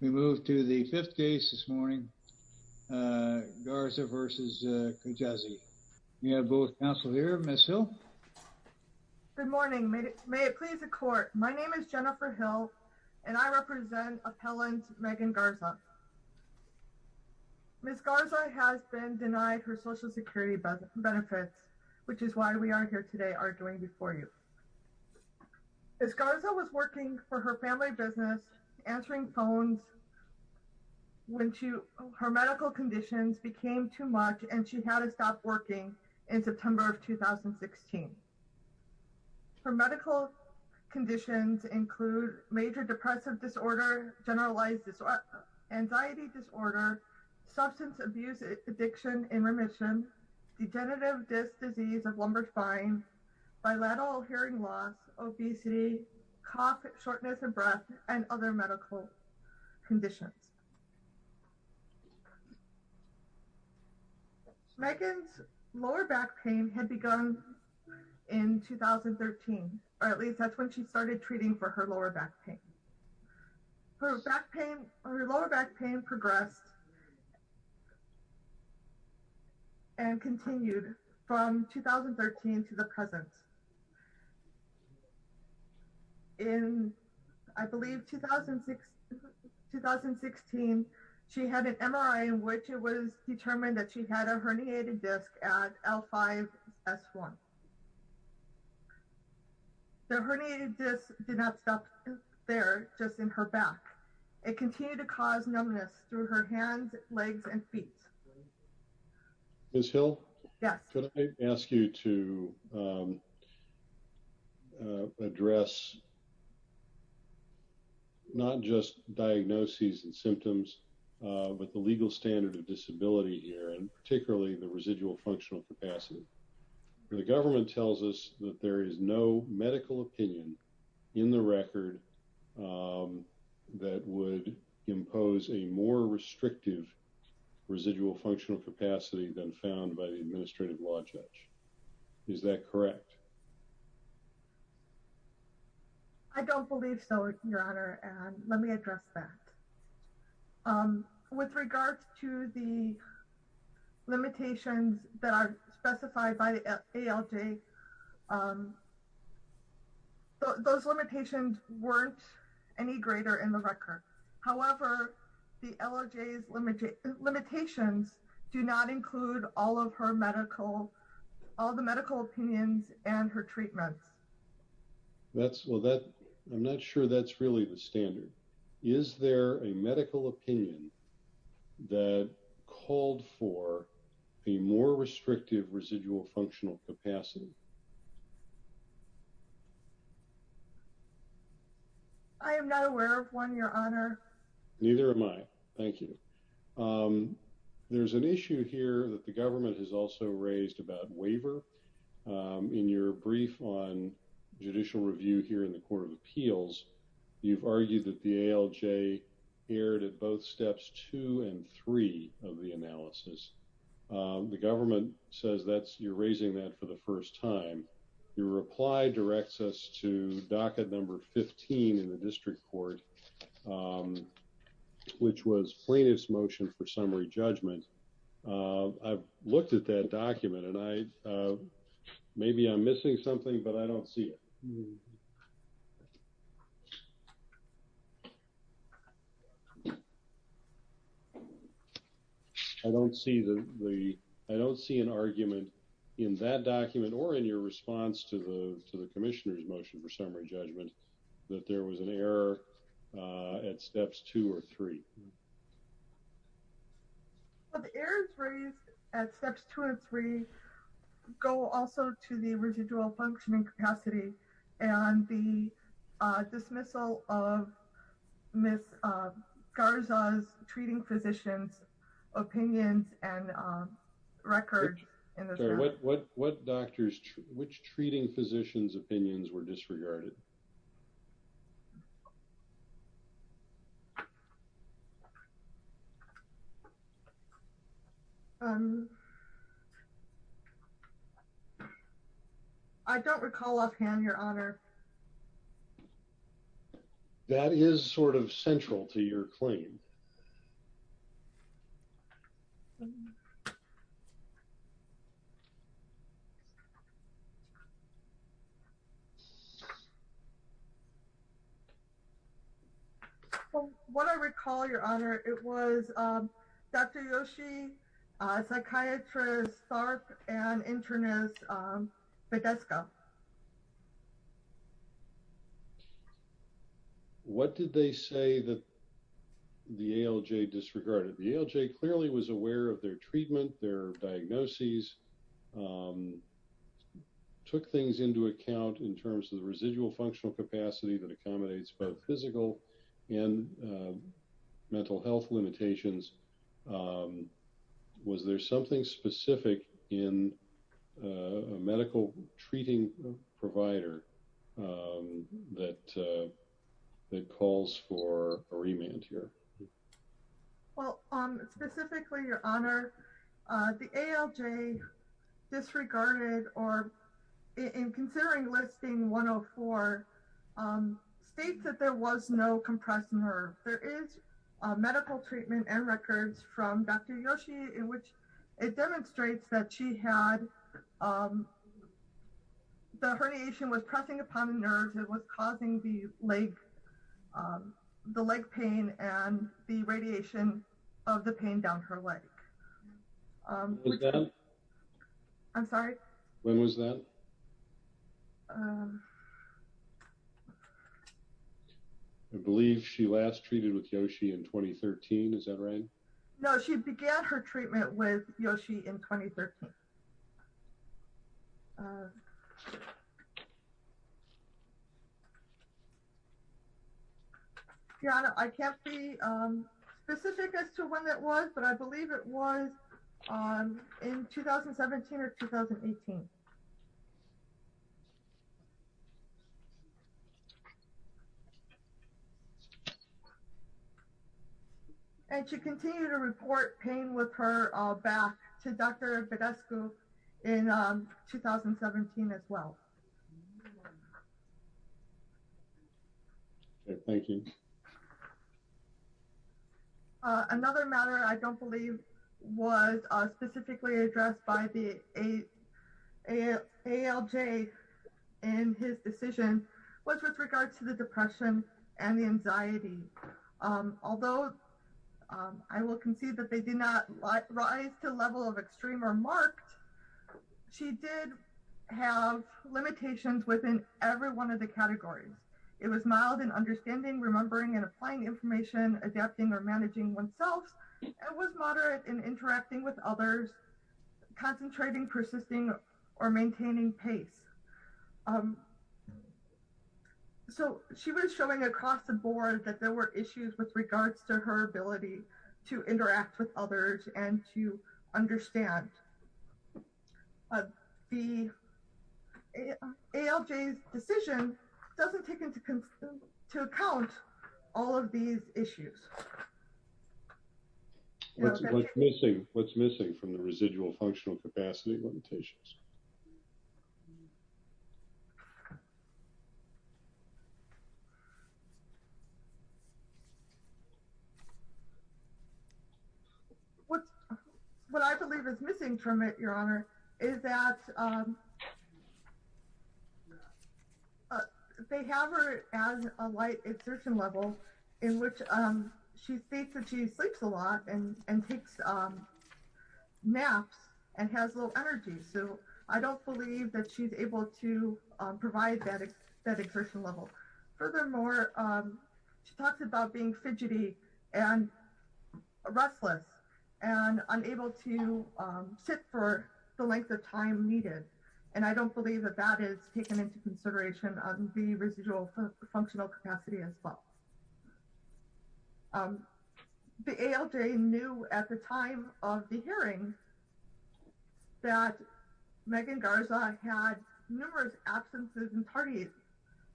We move to the fifth case this morning. Garza v. Kijakazi. We have both counsel here. Ms. Hill. Good morning. May it please the court. My name is Jennifer Hill and I represent appellant Megan Garza. Ms. Garza has been denied her social security benefits which is why we are here today arguing before you. Ms. Garza was working for her family business, answering phones when her medical conditions became too much and she had to stop working in September of 2016. Her medical conditions include major depressive disorder, generalized anxiety disorder, substance abuse addiction and remission, degenerative disc disease of lumbar spine, bilateral hearing loss, obesity, cough, shortness of breath and other medical conditions. Megan's lower back pain had begun in 2013 or at least that's when she started treating for lower back pain. Her lower back pain progressed and continued from 2013 to the present. In I believe 2016, she had an MRI in which it was determined that she had a herniated disc at L5 S1. The herniated disc did not stop there, just in her back. It continued to cause numbness through her hands, legs and feet. Ms. Hill. Yes. Could I ask you to address not just diagnoses and symptoms but the legal standard of disability here and particularly the residual functional capacity. The government tells us that there is no medical opinion in the record that would impose a more restrictive residual functional capacity than found by the administrative law judge. Is that correct? I don't believe so, your honor, and let me address that. With regards to the limitations that are specified by the ALJ, those limitations weren't any greater in the record. However, the ALJ's limitations do not include all of her medical, all the medical opinions and her treatments. That's, well that, I'm not sure that's really the standard. Is there a medical opinion that called for a more restrictive residual functional capacity? I am not aware of one, your honor. Neither am I. Thank you. There's an issue here that the appeals, you've argued that the ALJ erred at both steps two and three of the analysis. The government says that's, you're raising that for the first time. Your reply directs us to docket number 15 in the district court, which was plaintiff's motion for summary judgment. I've looked at that document and I, maybe I'm missing something, but I don't see it. I don't see the, I don't see an argument in that document or in your response to the, to the commissioner's motion for summary judgment that there was an error at steps two or three. Well, the errors raised at steps two and three go also to the residual functioning capacity and the dismissal of Ms. Garza's treating physician's opinions and records. What doctors, which treating physician's opinions were disregarded? Um, I don't recall offhand, your honor. That is sort of central to your claim. So what I recall your honor, it was, um, Dr. Yoshi, uh, psychiatrist, and internist, um, but that's go. What did they say that the ALJ disregarded? The ALJ clearly was aware of their treatment, their diagnoses, um, took things into account in terms of the residual functional capacity that accommodates both physical and mental health limitations. Um, was there something specific in a medical treating provider, um, that, uh, that calls for a remand here? Well, um, specifically your honor, uh, the ALJ disregarded or in considering listing 104, um, state that there was no compressed nerve. There is a medical treatment and records from Dr. Yoshi in which it demonstrates that she had, um, the herniation was pressing upon the nerves. It was causing the leg, um, the leg pain and the radiation of the pain down her leg. I'm sorry. When was that? I believe she last treated with Yoshi in 2013. Is that right? No, she began her treatment with Yoshi in 2013. Your honor, I can't be, um, specific as to when that was, but I believe it was, um, in 2017 or 2018. And she continued to report pain with her, uh, back to Dr. Badescu in, um, 2017 as well. Okay. Thank you. Uh, another matter I don't believe was, uh, specifically addressed by the ALJ in his decision was with regard to the depression and the anxiety. Um, although, um, I will concede that they did not rise to the level of extreme or marked. She did have limitations within every one of the categories. It was mild in understanding, remembering and applying information, adapting or managing oneself. It was moderate in interacting with others, concentrating, persisting, or maintaining pace. Um, so she was showing across the board that there were issues with regards to her ability to interact with others and to understand. Um, the ALJ's decision doesn't take into to account all of these issues. What's missing, what's missing from the residual functional capacity limitations? What's, what I believe is missing from it, Your Honor, is that, um, uh, they have her as a light exertion level in which, um, she states that she sleeps a lot and, and takes, um, naps and has low energy. So, um, she's not, she's not, she's not, she's not, I don't believe that she's able to, um, provide that exertion level. Furthermore, um, she talks about being fidgety and restless and unable to, um, sit for the length of time needed. And I don't believe that that is taken into consideration on the residual functional capacity as well. Um, the ALJ knew at the time of the hearing that Megan Garza had numerous absences and tardies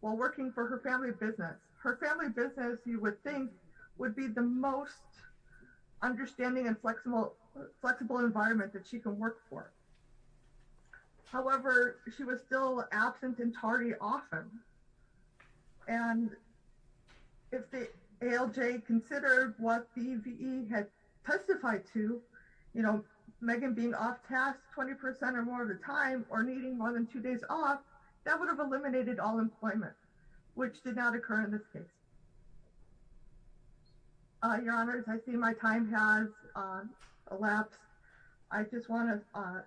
while working for her family business. Her family business, you would think, would be the most understanding and flexible, flexible environment that she can work for. However, she was still absent and tardy often. And if the ALJ considered what the VE had testified to, you know, Megan being off task 20% or more of the time or needing more than two days off, that would have eliminated all employment, which did not occur in this case. Uh, your honors, I see my time has, um, elapsed. I just want to, uh,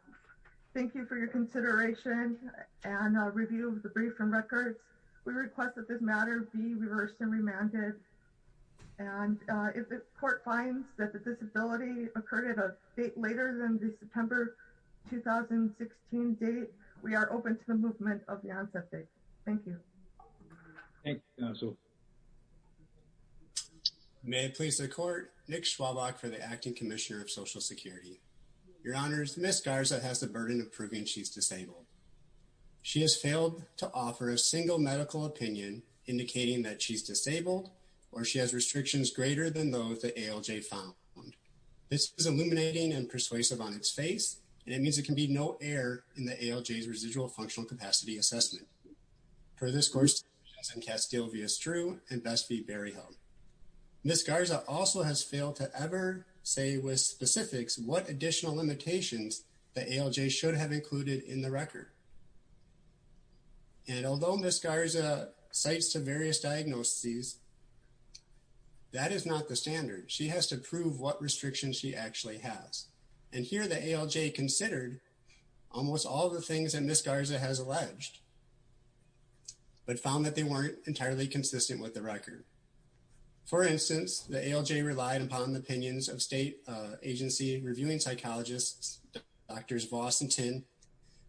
thank you for your consideration and a review of the brief from records. We request that this matter be reversed and remanded. And, uh, if the court finds that the disability occurred at a date later than the September 2016 date, we are open to the movement of the onset date. Thank you. Thank you, counsel. May it please the court, Nick Schwabach for the Acting Commissioner of Social Security. Your honors, Ms. Garza has the burden of proving she's disabled. She has failed to offer a single medical opinion indicating that she's disabled or she has restrictions greater than those the ALJ found. This is illuminating and persuasive on its face, and it means it can be no error in the ALJ's residual functional capacity assessment. Her discourse is in Castillo v. Estru and Best v. Berryhill. Ms. Garza also has failed to ever say with specifics what additional limitations the ALJ should have included in the record. And although Ms. Garza cites to various diagnoses, that is not the standard. She has to prove what restrictions she actually has. And here the ALJ considered almost all the things that Ms. Garza has alleged. But found that they weren't entirely consistent with the record. For instance, the ALJ relied upon the opinions of state agency reviewing psychologists, Drs. Vos and Tin,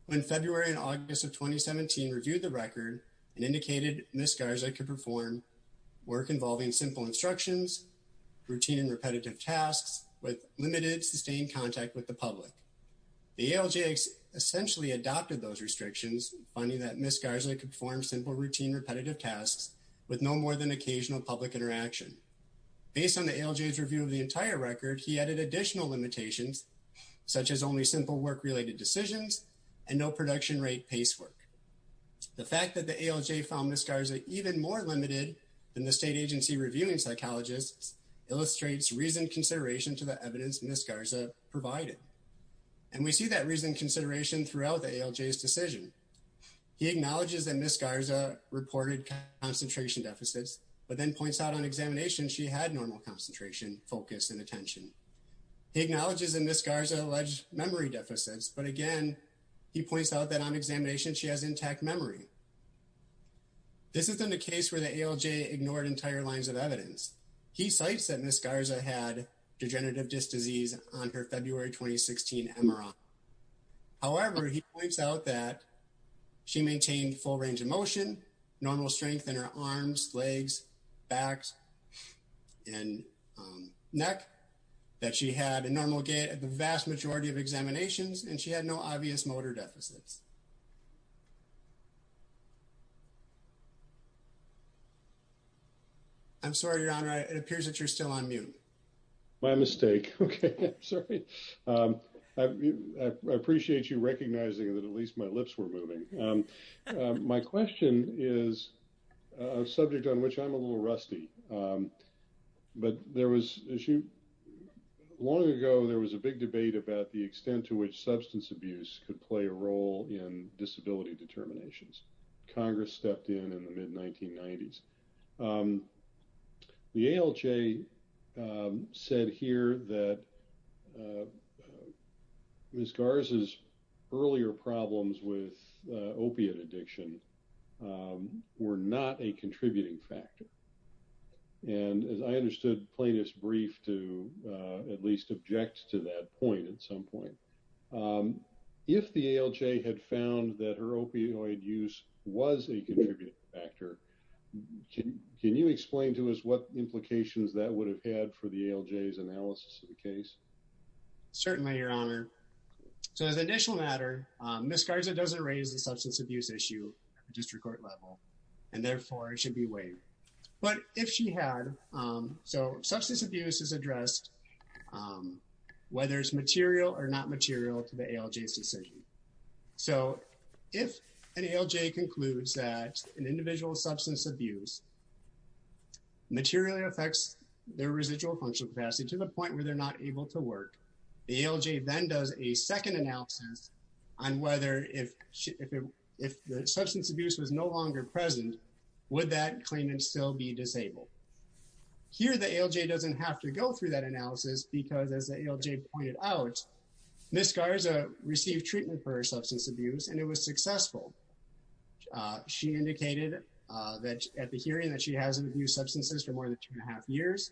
who in February and August of 2017 reviewed the record and indicated Ms. Garza could perform work involving simple instructions, routine and repetitive tasks, with limited sustained contact with the public. The ALJ essentially adopted those restrictions, finding that Ms. Garza could perform simple, routine, repetitive tasks with no more than occasional public interaction. Based on the ALJ's review of the entire record, he added additional limitations, such as only simple work-related decisions and no production rate pacework. The fact that the ALJ found Ms. Garza even more limited than the state agency reviewing psychologists illustrates reasoned consideration to the evidence Ms. Garza provided. And we see that reasoned consideration throughout the ALJ's decision. He acknowledges that Ms. Garza reported concentration deficits, but then points out on examination she had normal concentration, focus, and attention. He acknowledges that Ms. Garza alleged memory deficits, but again, he points out that on examination she has intact memory. This isn't a case where the ALJ ignored entire lines of evidence. He cites that Ms. Garza had degenerative disc disease on her February 2016 MRR. However, he points out that she maintained full range of motion, normal strength in her arms, legs, backs, and neck, that she had a normal gait at the vast majority of examinations, and she had no obvious motor deficits. I'm sorry, Your Honor. It appears that you're still on mute. My mistake. Okay. Sorry. I appreciate you recognizing that at least my lips were moving. My question is a subject on which I'm a little rusty, but there was issue. Long ago, there was a big debate about the extent to which substance abuse could play a role in disability determinations. Congress stepped in in the mid-1990s. The ALJ said here that Ms. Garza's earlier problems with opiate addiction were not a contributing factor, and as I understood Plaintiff's brief to at least object to that point at some point, if the ALJ had found that her opioid use was a contributing factor, can you explain to us what implications that would have had for the ALJ's analysis of the case? Certainly, Your Honor. So as an initial matter, Ms. Garza doesn't raise the substance abuse issue at the district court level, and therefore, it should be weighed. But if she had, so substance abuse is addressed whether it's material or not material to the ALJ's decision. So if an ALJ concludes that an individual's substance abuse materially affects their residual functional capacity to the point where they're not able to work, the ALJ then does a second analysis on whether if the substance abuse was no longer present, would that claimant still be disabled? Here, the ALJ doesn't have to go through that analysis because as the ALJ pointed out, Ms. Garza received treatment for her substance abuse, and it was successful. She indicated at the hearing that she hasn't abused substances for more than two and a half years,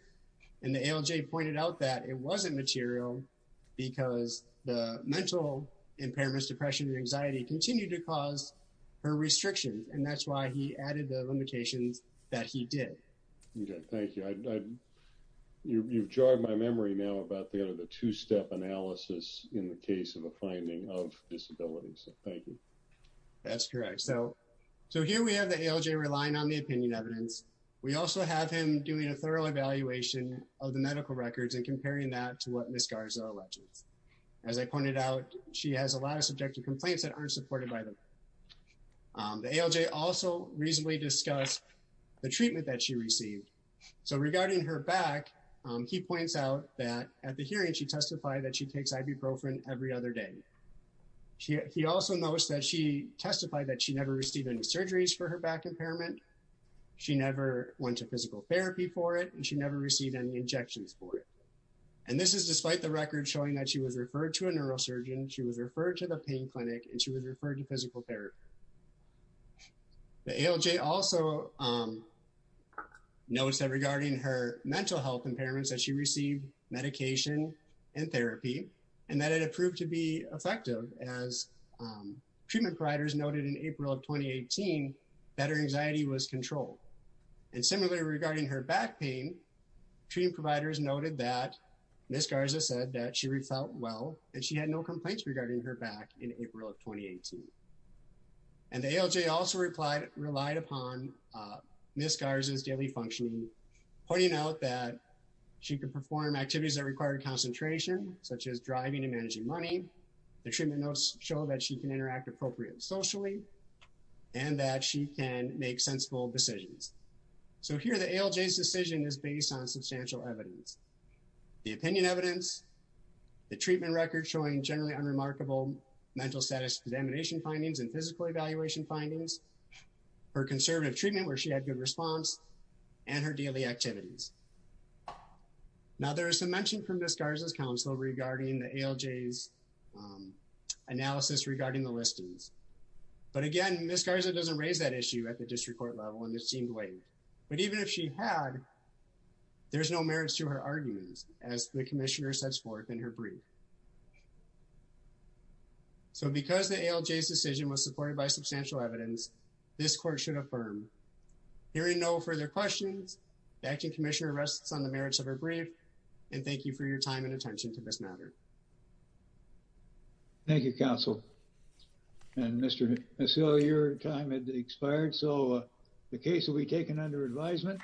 and the ALJ pointed out that it wasn't material because the mental impairments, depression, and anxiety continued to cause her restrictions, and that's why he added the limitations that he did. Okay, thank you. You've jarred my memory now about the two-step analysis in the case of a finding of disability, so thank you. That's correct. So here we have the ALJ relying on the opinion evidence. We also have him doing a thorough evaluation of the medical records and comparing that to what Ms. Garza alleges. As I pointed out, she has a lot of subjective complaints that aren't supported by them. The ALJ also reasonably discussed the treatment that she received. So regarding her back, he points out that at the hearing, she testified that she takes ibuprofen every other day. He also notes that she testified that she never received any surgeries for her back impairment. She never went to physical therapy for it, and she never received any injections for it, and this is despite the records showing that she was referred to a neurosurgeon, she was referred to the pain clinic, and she was referred to physical therapy. The ALJ also notes that regarding her mental health impairments that she received medication and therapy and that it approved to be effective as treatment providers noted in April of 2018 that her anxiety was controlled. And similarly regarding her back pain, treatment providers noted that Ms. Garza said that she felt well and she had no complaints regarding her back in April of 2018. And the ALJ also relied upon Ms. Garza's daily functioning, pointing out that she could perform activities that required concentration, such as driving and and that she can make sensible decisions. So here the ALJ's decision is based on substantial evidence. The opinion evidence, the treatment record showing generally unremarkable mental status contamination findings and physical evaluation findings, her conservative treatment where she had good response, and her daily activities. Now there is some mention from Ms. Garza's ALJ's analysis regarding the listings, but again Ms. Garza doesn't raise that issue at the district court level and this seemed late. But even if she had, there's no merits to her arguments as the commissioner sets forth in her brief. So because the ALJ's decision was supported by substantial evidence, this court should affirm. Hearing no further questions, the acting commissioner rests on the merits of her brief, and thank you for your time and attention to this matter. Thank you, counsel. And Mr. Mesil, your time had expired, so the case will be taken under advisement.